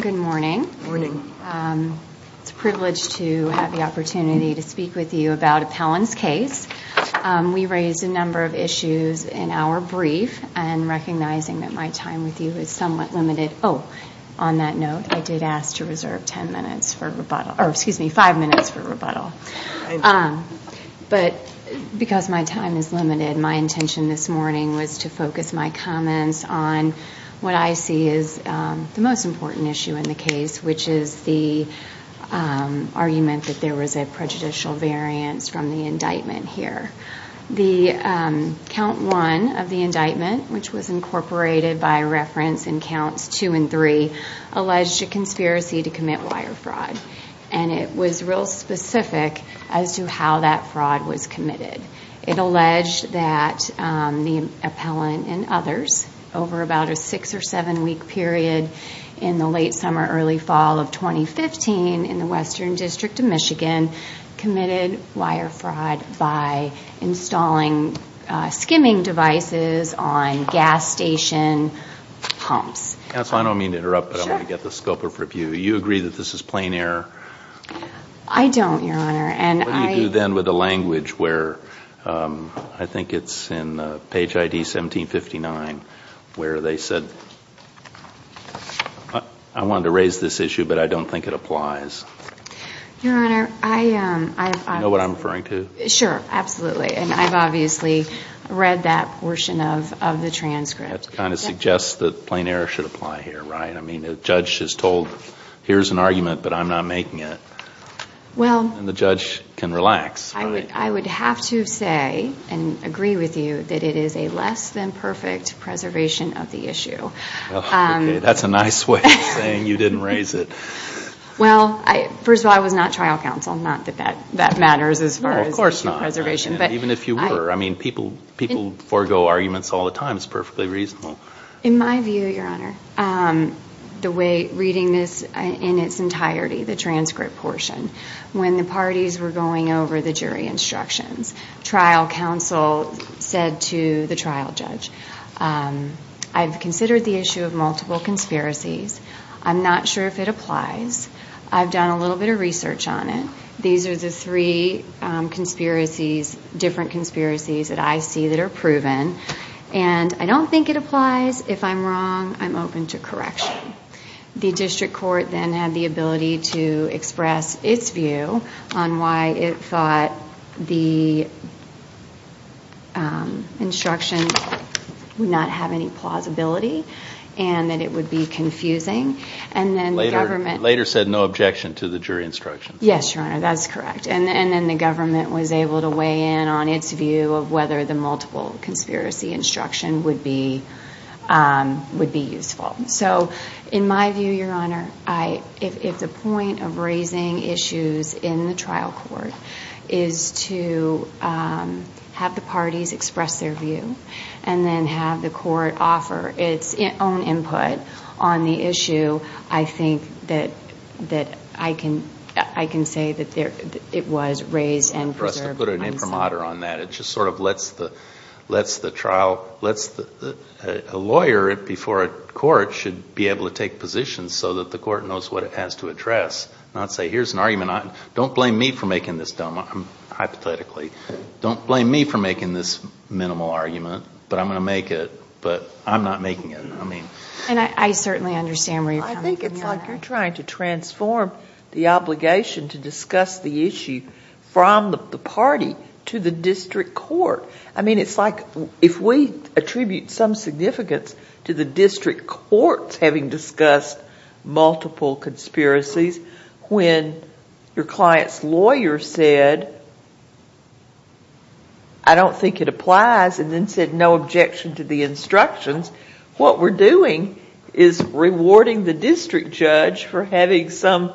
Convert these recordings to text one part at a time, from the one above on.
Good morning. It's a privilege to have the opportunity to speak with you about Appellant's case. We raised a number of issues in our brief and recognizing that my time with you is somewhat limited. Oh, on that note, I did ask to reserve five minutes for rebuttal. Because my time is limited, my intention this morning was to focus my comments on what I see as the most important issue in the case, which is the argument that there was a prejudicial variance from the indictment here. The count one of the indictment, which was incorporated by reference in counts two and three, alleged a conspiracy to commit wire fraud. It was real specific as to how that fraud was committed. It alleged that the appellant and others over about a six or seven week period in the late summer, early fall of 2015 in the Western Pumps. Counsel, I don't mean to interrupt, but I want to get the scope of review. You agree that this is plain error? I don't, Your Honor. What do you do then with the language where, I think it's in page ID 1759, where they said, I wanted to raise this issue, but I don't think it applies? Your Honor, I... You know what I'm referring to? Sure, absolutely. And I've obviously read that portion of the transcript. That kind of suggests that plain error should apply here, right? I mean, the judge is told, here's an argument, but I'm not making it. Well... And the judge can relax, right? I would have to say and agree with you that it is a less than perfect preservation of the issue. Okay, that's a nice way of saying you didn't raise it. Well, first of all, I was not trial counsel. Not that that matters as far as preservation. No, of course not. Even if you were. I mean, people forego arguments all the time. It's perfectly reasonable. In my view, Your Honor, the way reading this in its entirety, the transcript portion, when the parties were going over the jury instructions, trial counsel said to the trial judge, I've considered the issue of multiple conspiracies. I'm not sure if it applies. I've done a little bit of research on it. These are the three conspiracies, different conspiracies that I see that are proven. And I don't think it applies. If I'm wrong, I'm open to correction. The district court then had the ability to express its view on why it thought the instructions would not have any plausibility and that it would be confusing. Later said no objection to the jury instructions. Yes, Your Honor, that's correct. And then the government was able to weigh in on its view of whether the multiple conspiracy instruction would be useful. So, in my view, Your Honor, if the point of raising issues in the trial court is to have the parties express their view and then have the court offer its own input on the issue, I think that I can say that it was raised and preserved. For us to put an imprimatur on that, it just sort of lets the trial, lets the lawyer before a court should be able to take positions so that the court knows what it has to address, not say here's an argument. Don't blame me for making this dumb, hypothetically. Don't want to make it, but I'm not making it. And I certainly understand where you're coming from, Your Honor. I think it's like you're trying to transform the obligation to discuss the issue from the party to the district court. I mean, it's like if we attribute some significance to the district courts having discussed multiple conspiracies when your client's lawyer said I don't think it applies and then said no objection to the instructions, what we're doing is rewarding the district judge for having some,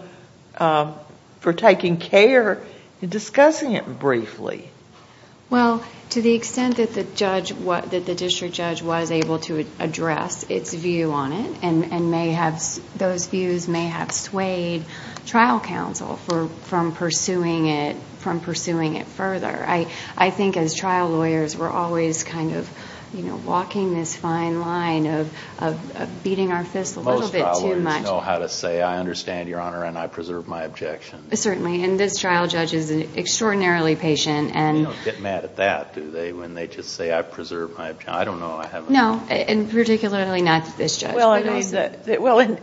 for taking care and discussing it briefly. Well, to the extent that the district judge was able to address its view on it and those views may have swayed trial counsel from pursuing it further. I think as trial lawyers, we're always kind of walking this fine line of beating our fist a little bit too much. Most trial lawyers know how to say I understand, Your Honor, and I preserve my objections. Certainly, and this trial judge is extraordinarily patient and You don't get mad at that, do they, when they just say I preserve my, I don't know, I haven't No, and particularly not this judge, but also Well,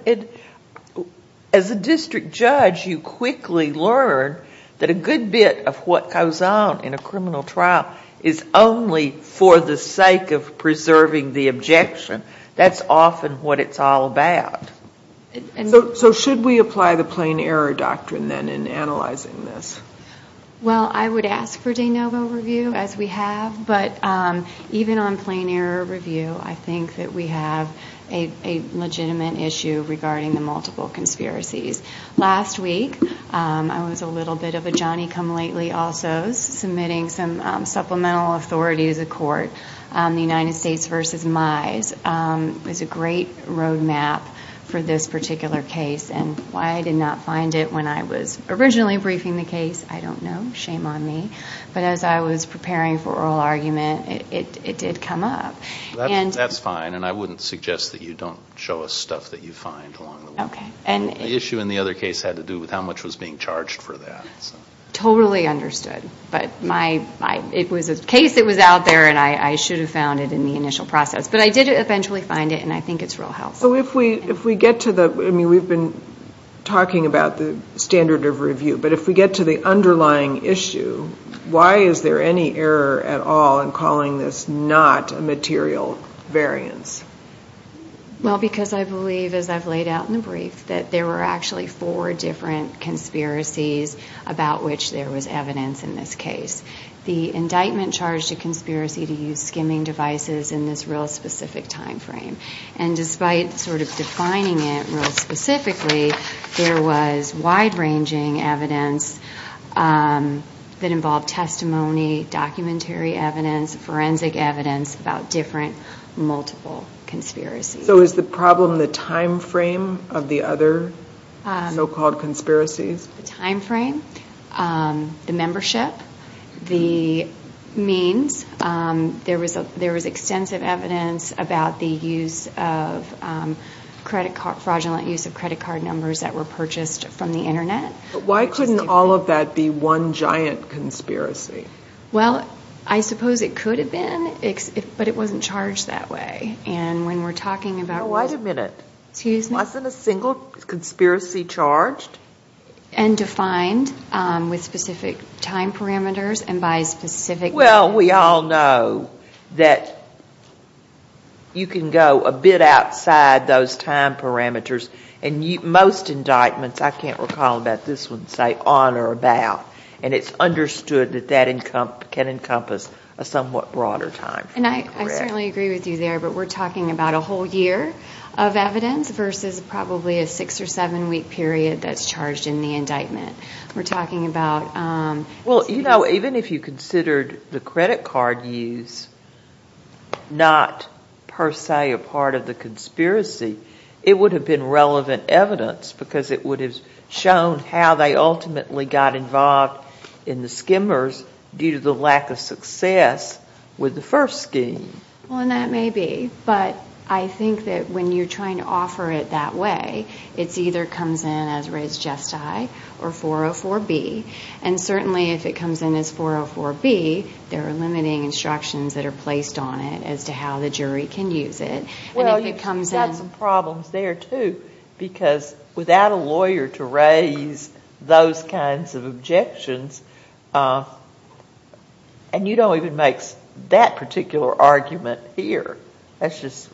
as a district judge, you quickly learn that a good bit of what goes on in a criminal trial is only for the sake of preserving the objection. That's often what it's all about. So should we apply the plain error doctrine then in analyzing this? Well, I would ask for de novo review as we have, but even on plain error review, I think that we have a legitimate issue regarding the multiple conspiracies. Last week, I was a little bit of a Johnny-come-lately also submitting some supplemental authorities of court on the United States v. Mize. It was a great road map for this particular case and why I did not find it when I was originally briefing the case, I don't know, shame on me, but as I was preparing for oral argument, it did come up. That's fine, and I wouldn't suggest that you don't show us stuff that you find along the way. The issue in the other case had to do with how much was being charged for that. Totally understood, but my, it was a case that was out there and I should have found it in the initial process, but I did eventually find it and I think it's real helpful. So if we get to the, I mean, we've been talking about the standard of review, but if we get to the underlying issue, why is there any error at all in calling this not a material variance? Well because I believe, as I've laid out in the brief, that there were actually four different conspiracies about which there was evidence in this case. The indictment charged a conspiracy to use skimming devices in this real specific time Specifically, there was wide-ranging evidence that involved testimony, documentary evidence, forensic evidence about different, multiple conspiracies. So is the problem the time frame of the other so-called conspiracies? The time frame, the membership, the means, there was extensive evidence about the fraudulent use of credit card numbers that were purchased from the internet. Why couldn't all of that be one giant conspiracy? Well, I suppose it could have been, but it wasn't charged that way and when we're talking about... Wait a minute. Excuse me. Wasn't a single conspiracy charged? And defined with specific time parameters and by specific... Well, we all know that you can go a bit outside those time parameters and most indictments, I can't recall about this one, say on or about and it's understood that that can encompass a somewhat broader time frame. And I certainly agree with you there, but we're talking about a whole year of evidence versus probably a six or seven week period that's charged in the indictment. We're talking about... Well, you know, even if you considered the credit card use not per se a part of the conspiracy, it would have been relevant evidence because it would have shown how they ultimately got involved in the skimmers due to the lack of success with the first scheme. Well, and that may be, but I think that when you're trying to offer it that way, it's either comes in as res gesti or 404B. And certainly if it comes in as 404B, there are limiting instructions that are placed on it as to how the jury can use it. And if it comes in... Well, you've got some problems there too, because without a lawyer to raise those kinds of objections, and you don't even make that particular argument here. That's just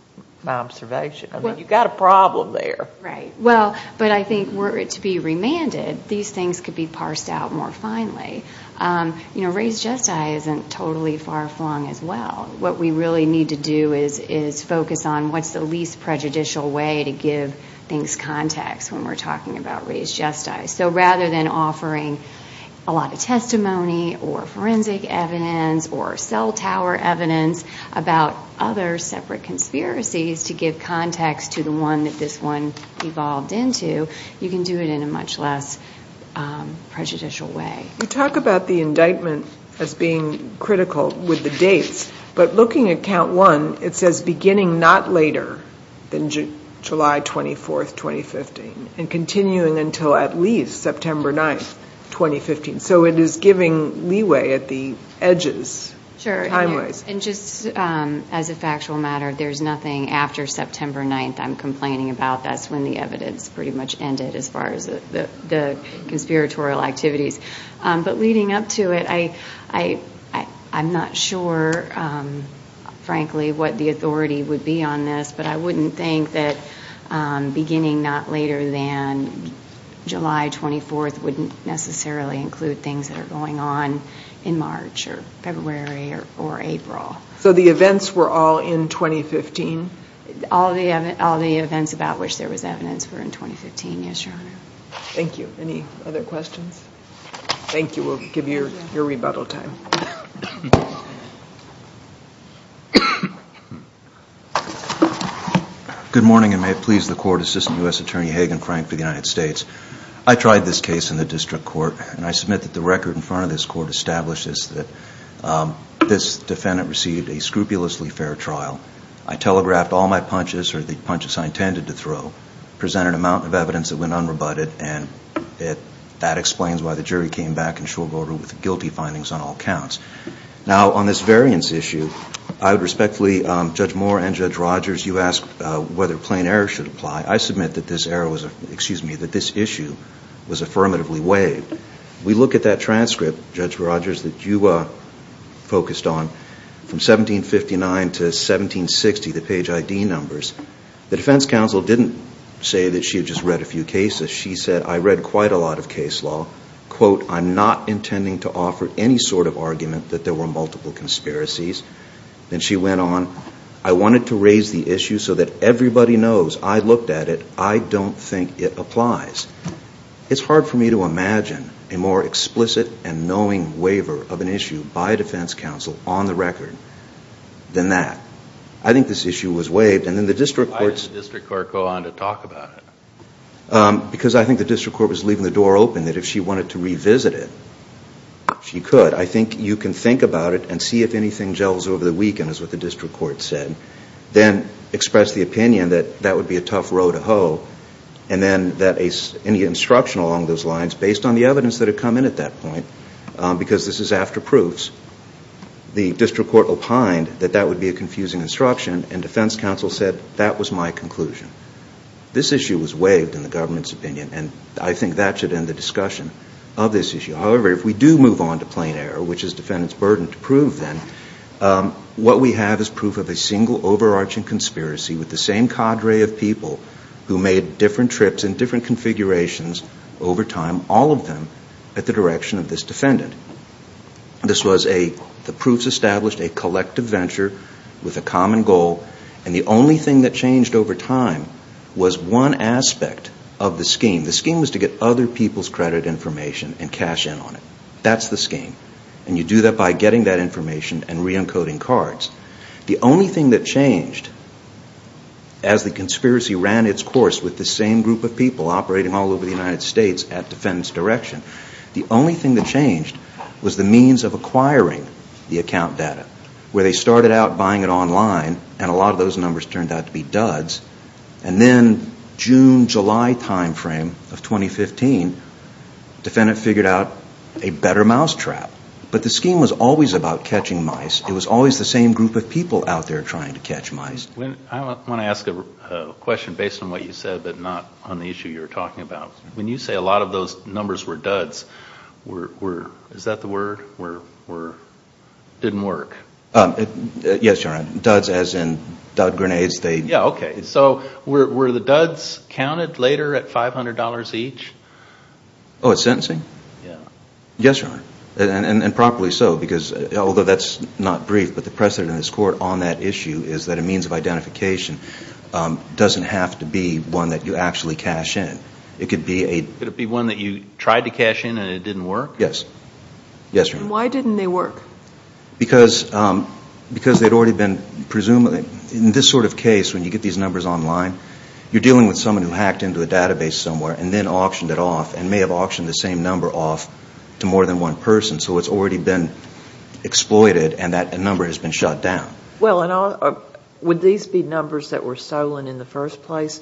my observation. I mean, you've got a problem there. Right. Well, but I think were it to be remanded, these things could be parsed out more finely. You know, res gesti isn't totally far flung as well. What we really need to do is focus on what's the least prejudicial way to give things context when we're talking about res gesti. So rather than offering a lot of testimony or forensic evidence or cell tower evidence about other separate conspiracies to give context to the one that this one evolved into, you can do it in a much less prejudicial way. You talk about the indictment as being critical with the dates, but looking at count one, it says beginning not later than July 24th, 2015, and continuing until at least September 9th, 2015. So it is giving leeway at the edges, time-wise. Sure, and just as a factual matter, there's nothing after September 9th I'm complaining about. That's when the evidence pretty much ended as far as the conspiratorial activities. But leading up to it, I'm not sure, frankly, what the authority would be on this, but I wouldn't think that beginning not later than July 24th wouldn't necessarily include things that are going on in March or February or April. So the events were all in 2015? All the events about which there was evidence were in 2015, yes, Your Honor. Thank you. Any other questions? Thank you. We'll give you your rebuttal time. Good morning and may it please the Court, Assistant U.S. Attorney Hagan Frank for the United States. I tried this case in the district court, and I submit that the record in front of this court establishes that this defendant received a scrupulously fair trial. I telegraphed all my punches, or the punches I intended to throw, presented an amount of evidence that went unrebutted, and that explains why the jury came back in short order with guilty findings on all counts. Now on this variance issue, I would respectfully, Judge Moore and Judge Rogers, you asked whether plain error should apply. I submit that this issue was affirmatively waived. We look at that transcript, Judge Rogers, that you focused on, from 1759 to 1760, the page ID numbers. The defense counsel didn't say that she had just read a few cases. She said, I read quite a lot of case law, quote, I'm not intending to offer any sort of argument that there were multiple conspiracies. Then she went on, I wanted to raise the issue so that everybody knows I looked at it. I don't think it applies. It's hard for me to imagine a more explicit and knowing waiver of an issue by a defense counsel on the record than that. I think this issue was waived, and then the district court's... Why did the district court go on to talk about it? Because I think the district court was leaving the door open, that if she wanted to revisit it, she could. I think you can think about it and see if anything gels over the weekend, is what the district court said. Then express the opinion that that would be a tough row to hoe, and then that any instruction along those lines, based on the evidence that had come in at that point, because this is after proofs, the district court opined that that would be a confusing instruction, and defense counsel said, that was my conclusion. This issue was waived in the government's opinion, and I think that should end the discussion of this issue. However, if we do move on to plain error, which is defendant's burden to prove then, what we have is proof of a single overarching conspiracy with the same cadre of people who made different trips and different configurations over time, all of them at the direction of this defendant. This was a... the proofs established a collective venture with a common goal, and the only thing that changed over time was one aspect of the scheme. The scheme was to get other people's credit information and cash in on it. That's the scheme, and you do that by getting that information and re-encoding cards. The only thing that changed as the conspiracy ran its course with the same group of people operating all over the United States at defendant's direction, the only thing that changed was the means of acquiring the account data, where they started out buying it online, and a lot in the mid-July timeframe of 2015, defendant figured out a better mousetrap. But the scheme was always about catching mice. It was always the same group of people out there trying to catch mice. I want to ask a question based on what you said, but not on the issue you were talking about. When you say a lot of those numbers were duds, is that the word, or didn't work? Yes, Your Honor. Duds as in dud grenades, they... Yeah, okay. So were the duds counted later at $500 each? Oh, at sentencing? Yeah. Yes, Your Honor. And properly so, because although that's not brief, but the precedent in this court on that issue is that a means of identification doesn't have to be one that you actually cash in. It could be a... Could it be one that you tried to cash in and it didn't work? Yes. Yes, Your Honor. Why didn't they work? Because they'd already been presumably... In this sort of case, when you get these numbers online, you're dealing with someone who hacked into a database somewhere and then auctioned it off and may have auctioned the same number off to more than one person. So it's already been exploited and that number has been shut down. Well, would these be numbers that were stolen in the first place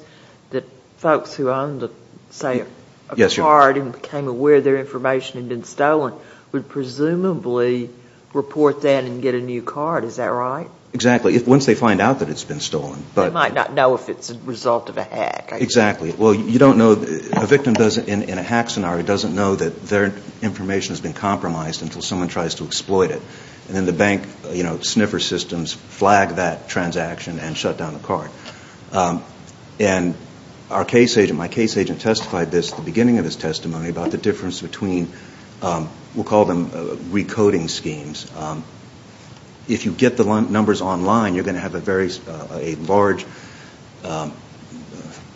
that folks who owned, say, a card and became aware their information had been stolen would presumably report that and get a new card? Is that right? Exactly. Once they find out that it's been stolen. They might not know if it's a result of a hack. Exactly. Well, you don't know... A victim in a hack scenario doesn't know that their information has been compromised until someone tries to exploit it. And then the bank sniffer systems flag that transaction and shut down the card. And our case agent... my case agent testified this at the beginning of his testimony about the difference between... we'll call them recoding schemes. If you get the numbers online, you're going to have a very large, for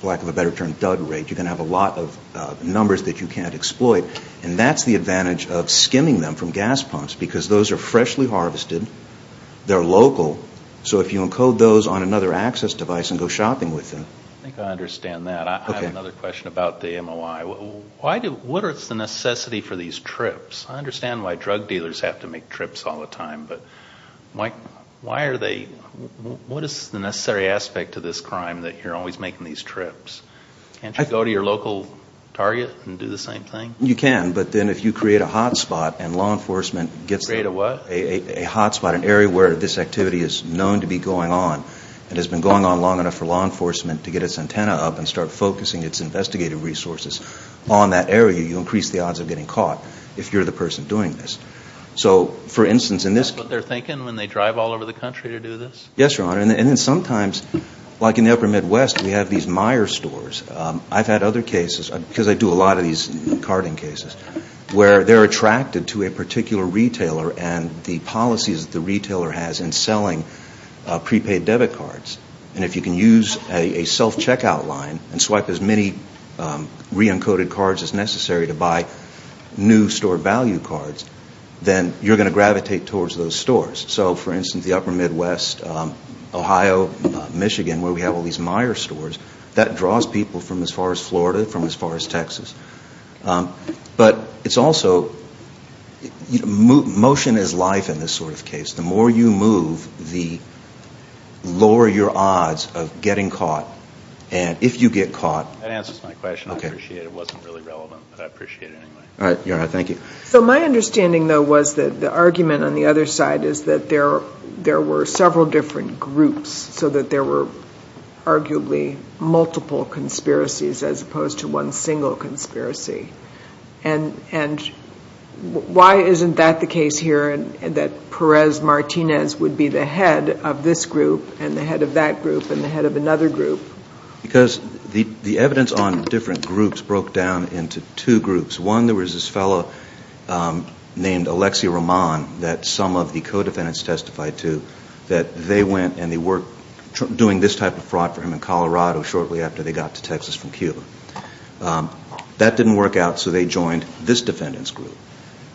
lack of a better term, dud rate. You're going to have a lot of numbers that you can't exploit. And that's the advantage of skimming them from gas pumps because those are freshly harvested. They're local. So if you encode those on another access device and go shopping with them... I think I understand that. I have another question about the MOI. What is the necessity for these trips? I understand why drug dealers have to make trips all the time, but why are they... what is the necessary aspect to this crime that you're always making these trips? Can't you go to your local target and do the same thing? You can, but then if you create a hotspot and law enforcement gets... Create a what? A hotspot, an area where this activity is known to be going on and has been going on long enough for law enforcement to get its antenna up and start focusing its investigative resources on that area, you increase the odds of getting caught if you're the person doing this. So, for instance... Is that what they're thinking when they drive all over the country to do this? Yes, Your Honor. And then sometimes, like in the upper Midwest, we have these Meijer stores. I've had other cases, because I do a lot of these carting cases, where they're attracted to a particular retailer and the policies that the retailer has in selling prepaid debit cards. And if you can use a self-checkout line and swipe as many re-encoded cards as necessary to buy new store value cards, then you're going to gravitate towards those stores. So, for instance, the upper Midwest, Ohio, Michigan, where we have all these Meijer stores, that draws people from as far as Florida, from as far as Texas. But it's also... motion is life in this sort of case. The more you move, the lower your odds of getting caught. And if you get caught... That answers my question. I appreciate it. It wasn't really relevant, but I appreciate it anyway. All right. Your Honor, thank you. So, my understanding, though, was that the argument on the other side is that there were several different groups, so that there were arguably multiple conspiracies as opposed to one single conspiracy. And why isn't that the case here, that Perez-Martinez would be the head of this group and the head of that group and the head of another group? Because the evidence on different groups broke down into two groups. One, there was this fellow named Alexi Roman that some of the co-defendants testified to that they went and they were doing this type of fraud for him in Colorado shortly after they got to Texas from Cuba. That didn't work out, so they joined this defendant's group.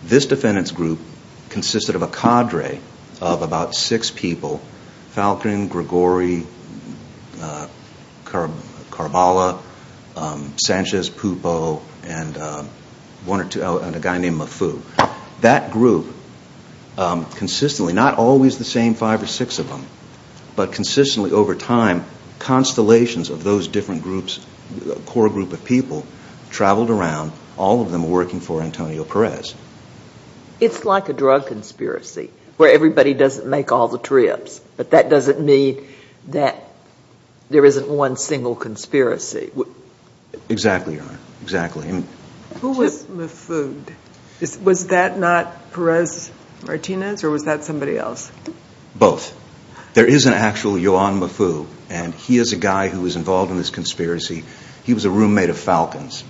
This defendant's group consisted of a cadre of about six people, Falcon, Gregori, Carballa, Sanchez, Pupo, and a guy named Mafu. That group consistently, not always the same five or six of them, but consistently over time, constellations of those different groups, a core group of people, traveled around, all of them working for Antonio Perez. It's like a drug conspiracy where everybody doesn't make all the trips, but that doesn't mean that there isn't one single conspiracy. Exactly, Your Honor, exactly. Who was Mafu? Was that not Perez-Martinez or was that somebody else? Both. There is an actual Yuan Mafu, and he is a guy who was involved in this conspiracy. He was a roommate of Falcon's.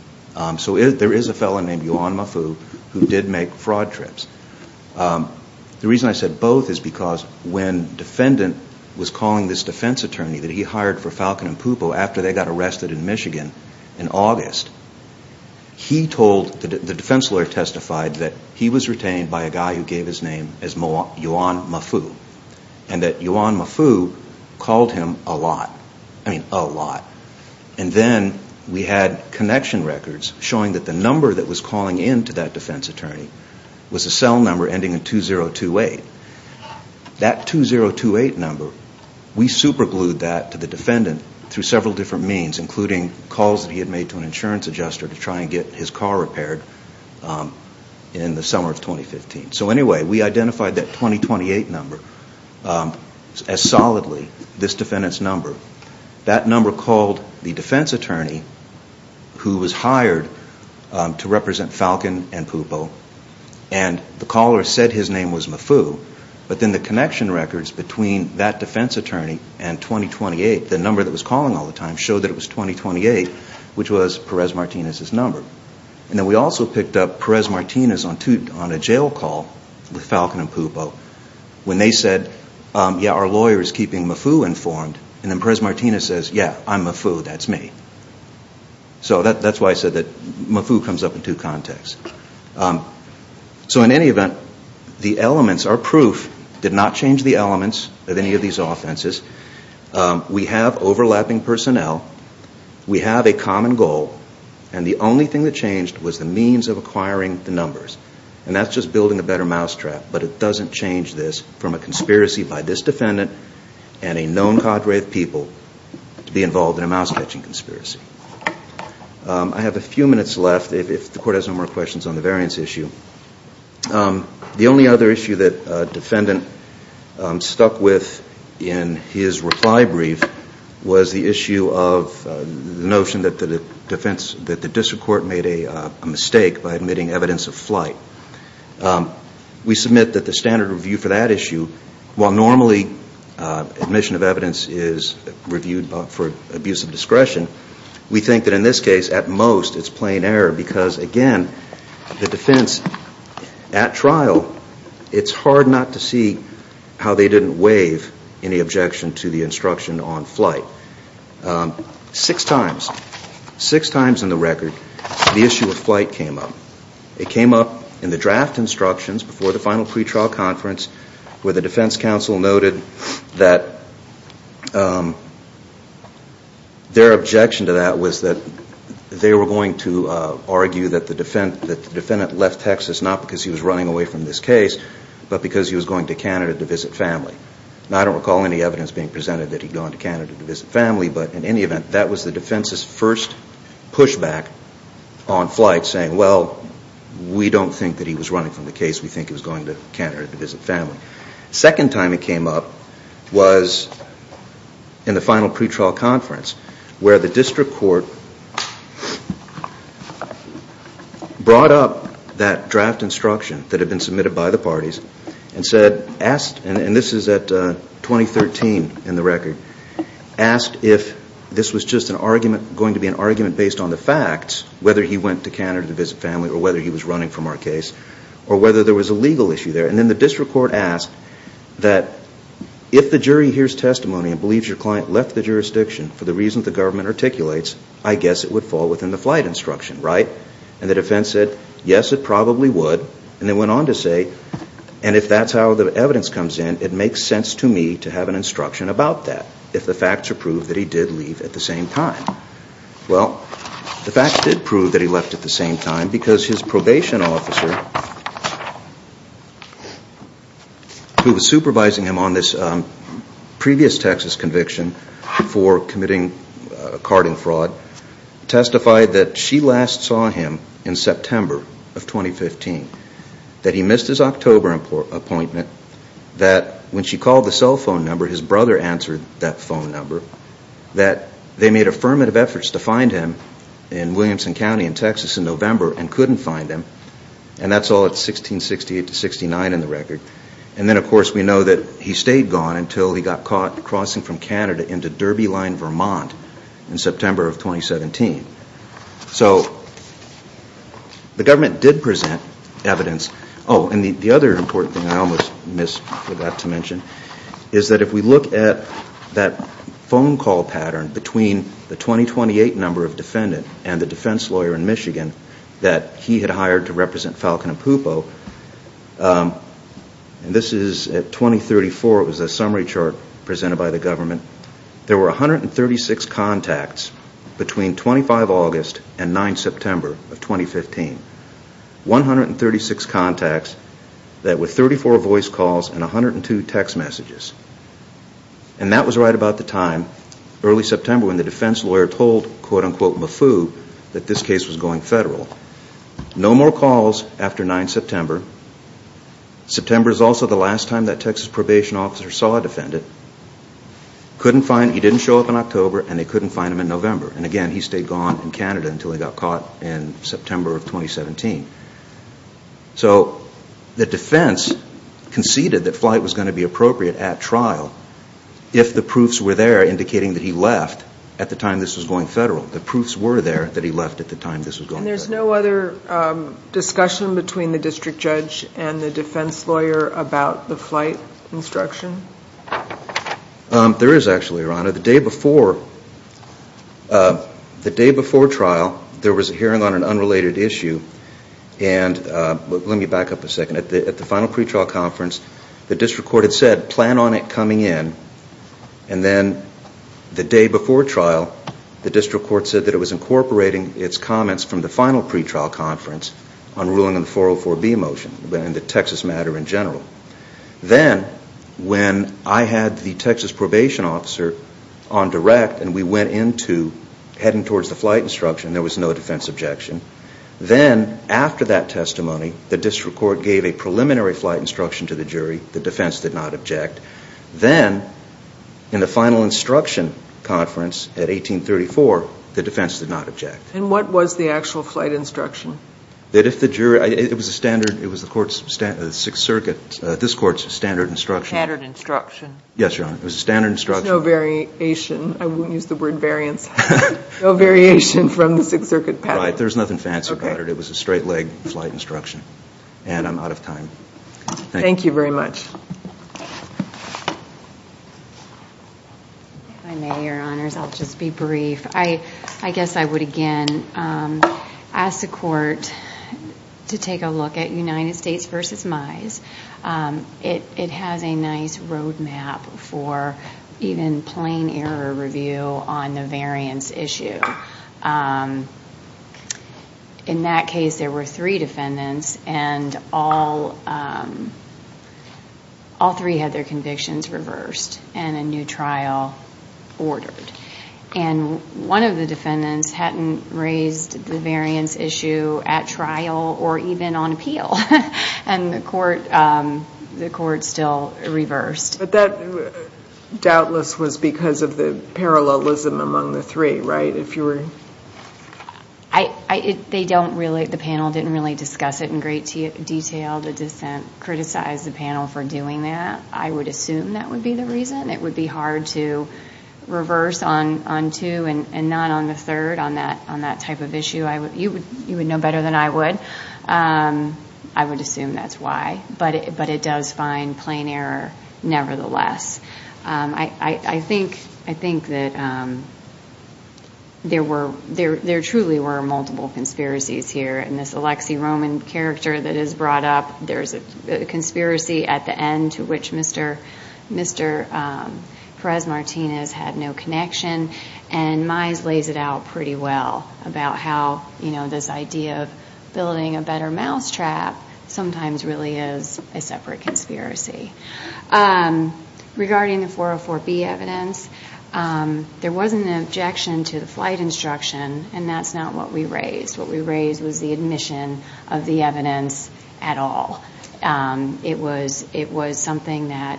So there is a fellow named Yuan Mafu who did make fraud trips. The reason I said both is because when the defendant was calling this defense attorney that he hired for Falcon and Pupo after they got arrested in Michigan in August, the defense lawyer testified that he was retained by a guy who gave his name as Yuan Mafu. And that Yuan Mafu called him a lot, I mean a lot. And then we had connection records showing that the number that was calling in to that defense attorney was a cell number ending in 2028. That 2028 number, we superglued that to the defendant through several different means, including calls that he had made to an insurance adjuster to try and get his car repaired in the summer of 2015. So anyway, we identified that 2028 number as solidly this defendant's number. That number called the defense attorney who was hired to represent Falcon and Pupo. And the caller said his name was Mafu. But then the connection records between that defense attorney and 2028, the number that was calling all the time, showed that it was 2028, which was Perez-Martinez's number. And then we also picked up Perez-Martinez on a jail call with Falcon and Pupo when they said, yeah, our lawyer is keeping Mafu informed. And then Perez-Martinez says, yeah, I'm Mafu, that's me. So that's why I said that Mafu comes up in two contexts. So in any event, the elements, our proof did not change the elements of any of these offenses. We have overlapping personnel. We have a common goal. And the only thing that changed was the means of acquiring the numbers. And that's just building a better mousetrap. But it doesn't change this from a conspiracy by this defendant and a known cadre of people to be involved in a mouse-catching conspiracy. I have a few minutes left if the Court has no more questions on the variance issue. The only other issue that a defendant stuck with in his reply brief was the issue of the notion that the District Court made a mistake by admitting evidence of flight. We submit that the standard review for that issue, while normally admission of evidence is reviewed for abuse of discretion, we think that in this case at most it's plain error because, again, the defense at trial, it's hard not to see how they didn't waive any objection to the instruction on flight. Six times, six times in the record, the issue of flight came up. It came up in the draft instructions before the final pretrial conference where the defense counsel noted that their objection to that was that they were going to argue that the defendant left Texas not because he was running away from this case but because he was going to Canada to visit family. And I don't recall any evidence being presented that he'd gone to Canada to visit family, but in any event, that was the defense's first pushback on flight saying, well, we don't think that he was running from the case. We think he was going to Canada to visit family. Second time it came up was in the final pretrial conference where the district court brought up that draft instruction that had been submitted by the parties and said, asked, and this is at 2013 in the record, asked if this was just an argument, going to be an argument based on the facts, whether he went to Canada to visit family or whether he was running from our case or whether there was a legal issue there. And then the district court asked that if the jury hears testimony and believes your client left the jurisdiction for the reasons the government articulates, I guess it would fall within the flight instruction, right? And the defense said, yes, it probably would. And they went on to say, and if that's how the evidence comes in, it makes sense to me to have an instruction about that if the facts are proved that he did leave at the same time. Well, the facts did prove that he left at the same time because his probation officer, who was supervising him on this previous Texas conviction before committing carding fraud, testified that she last saw him in September of 2015, that he missed his October appointment, that when she called the cell phone number, his brother answered that phone number, that they made affirmative efforts to find him in Williamson County in Texas in November and couldn't find him. And that's all at 1668 to 1669 in the record. And then, of course, we know that he stayed gone until he got caught crossing from Canada into Derby Line, Vermont in September of 2017. So the government did present evidence. Oh, and the other important thing I almost missed, forgot to mention, is that if we look at that phone call pattern between the 2028 number of defendant and the defense lawyer in Michigan that he had hired to represent Falcon and Pupo, and this is at 2034, it was a summary chart presented by the government, there were 136 contacts between 25 August and 9 September of 2015. 136 contacts with 34 voice calls and 102 text messages. And that was right about the time, early September, when the defense lawyer told, quote-unquote, Mafu, that this case was going federal. No more calls after 9 September. September is also the last time that Texas probation officer saw a defendant. He didn't show up in October and they couldn't find him in November. And again, he stayed gone in Canada until he got caught in September of 2017. So the defense conceded that flight was going to be appropriate at trial if the proofs were there indicating that he left at the time this was going federal. The proofs were there that he left at the time this was going federal. And there's no other discussion between the district judge and the defense lawyer about the flight instruction? There is actually, Your Honor. The day before trial, there was a hearing on an unrelated issue. Let me back up a second. At the final pretrial conference, the district court had said, plan on it coming in. And then the day before trial, the district court said that it was incorporating its comments from the final pretrial conference on ruling on the 404B motion and the Texas matter in general. Then when I had the Texas probation officer on direct and we went into heading towards the flight instruction, there was no defense objection. Then after that testimony, the district court gave a preliminary flight instruction to the jury. The defense did not object. Then in the final instruction conference at 1834, the defense did not object. And what was the actual flight instruction? It was the court's Sixth Circuit, this court's standard instruction. Pattern instruction. Yes, Your Honor. It was a standard instruction. There's no variation. I won't use the word variance. No variation from the Sixth Circuit pattern. Right. There's nothing fancy about it. It was a straight leg flight instruction. And I'm out of time. Thank you. Thank you very much. If I may, Your Honors, I'll just be brief. I guess I would, again, ask the court to take a look at United States v. Mize. It has a nice roadmap for even plain error review on the variance issue. In that case, there were three defendants, and all three had their convictions reversed and a new trial ordered. And one of the defendants hadn't raised the variance issue at trial or even on appeal, and the court still reversed. But that, doubtless, was because of the parallelism among the three, right? The panel didn't really discuss it in great detail. The dissent criticized the panel for doing that. I would assume that would be the reason. It would be hard to reverse on two and not on the third on that type of issue. You would know better than I would. I would assume that's why. But it does find plain error nevertheless. I think that there truly were multiple conspiracies here. In this Alexi Roman character that is brought up, there's a conspiracy at the end to which Mr. Perez-Martinez had no connection, and Mize lays it out pretty well about how this idea of building a better mousetrap sometimes really is a separate conspiracy. Regarding the 404B evidence, there was an objection to the flight instruction, and that's not what we raised. What we raised was the admission of the evidence at all. It was something that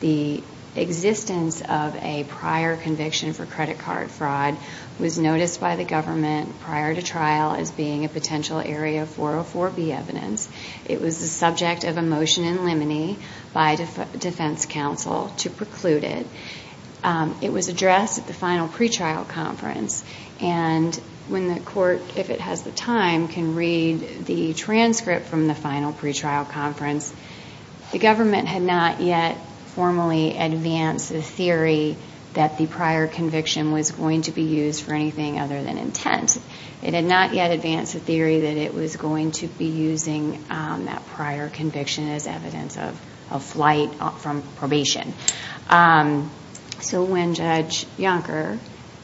the existence of a prior conviction for credit card fraud was noticed by the government prior to trial as being a potential area of 404B evidence. It was the subject of a motion in limine by defense counsel to preclude it. It was addressed at the final pretrial conference, and when the court, if it has the time, can read the transcript from the final pretrial conference, the government had not yet formally advanced the theory that the prior conviction was going to be used for anything other than intent. It had not yet advanced the theory that it was going to be using that prior conviction as evidence of a flight from probation. So when Judge Yonker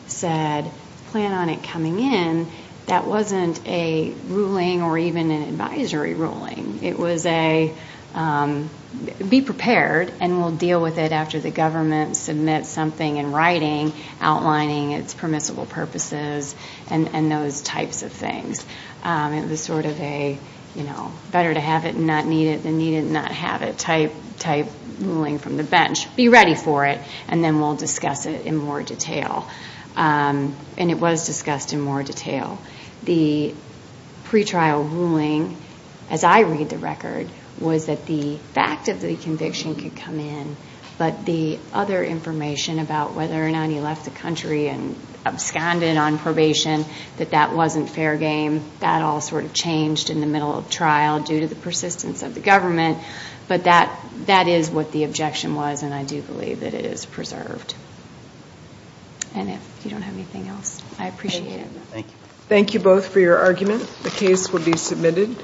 said plan on it coming in, that wasn't a ruling or even an advisory ruling. It was a be prepared and we'll deal with it after the government submits something in writing outlining its permissible purposes and those types of things. It was sort of a better to have it and not need it than need it and not have it type ruling from the bench. Be ready for it, and then we'll discuss it in more detail. And it was discussed in more detail. The pretrial ruling, as I read the record, was that the fact of the conviction could come in, but the other information about whether or not he left the country and absconded on probation, that that wasn't fair game. That all sort of changed in the middle of trial due to the persistence of the government, but that is what the objection was, and I do believe that it is preserved. And if you don't have anything else, I appreciate it. Thank you both for your argument. The case will be submitted.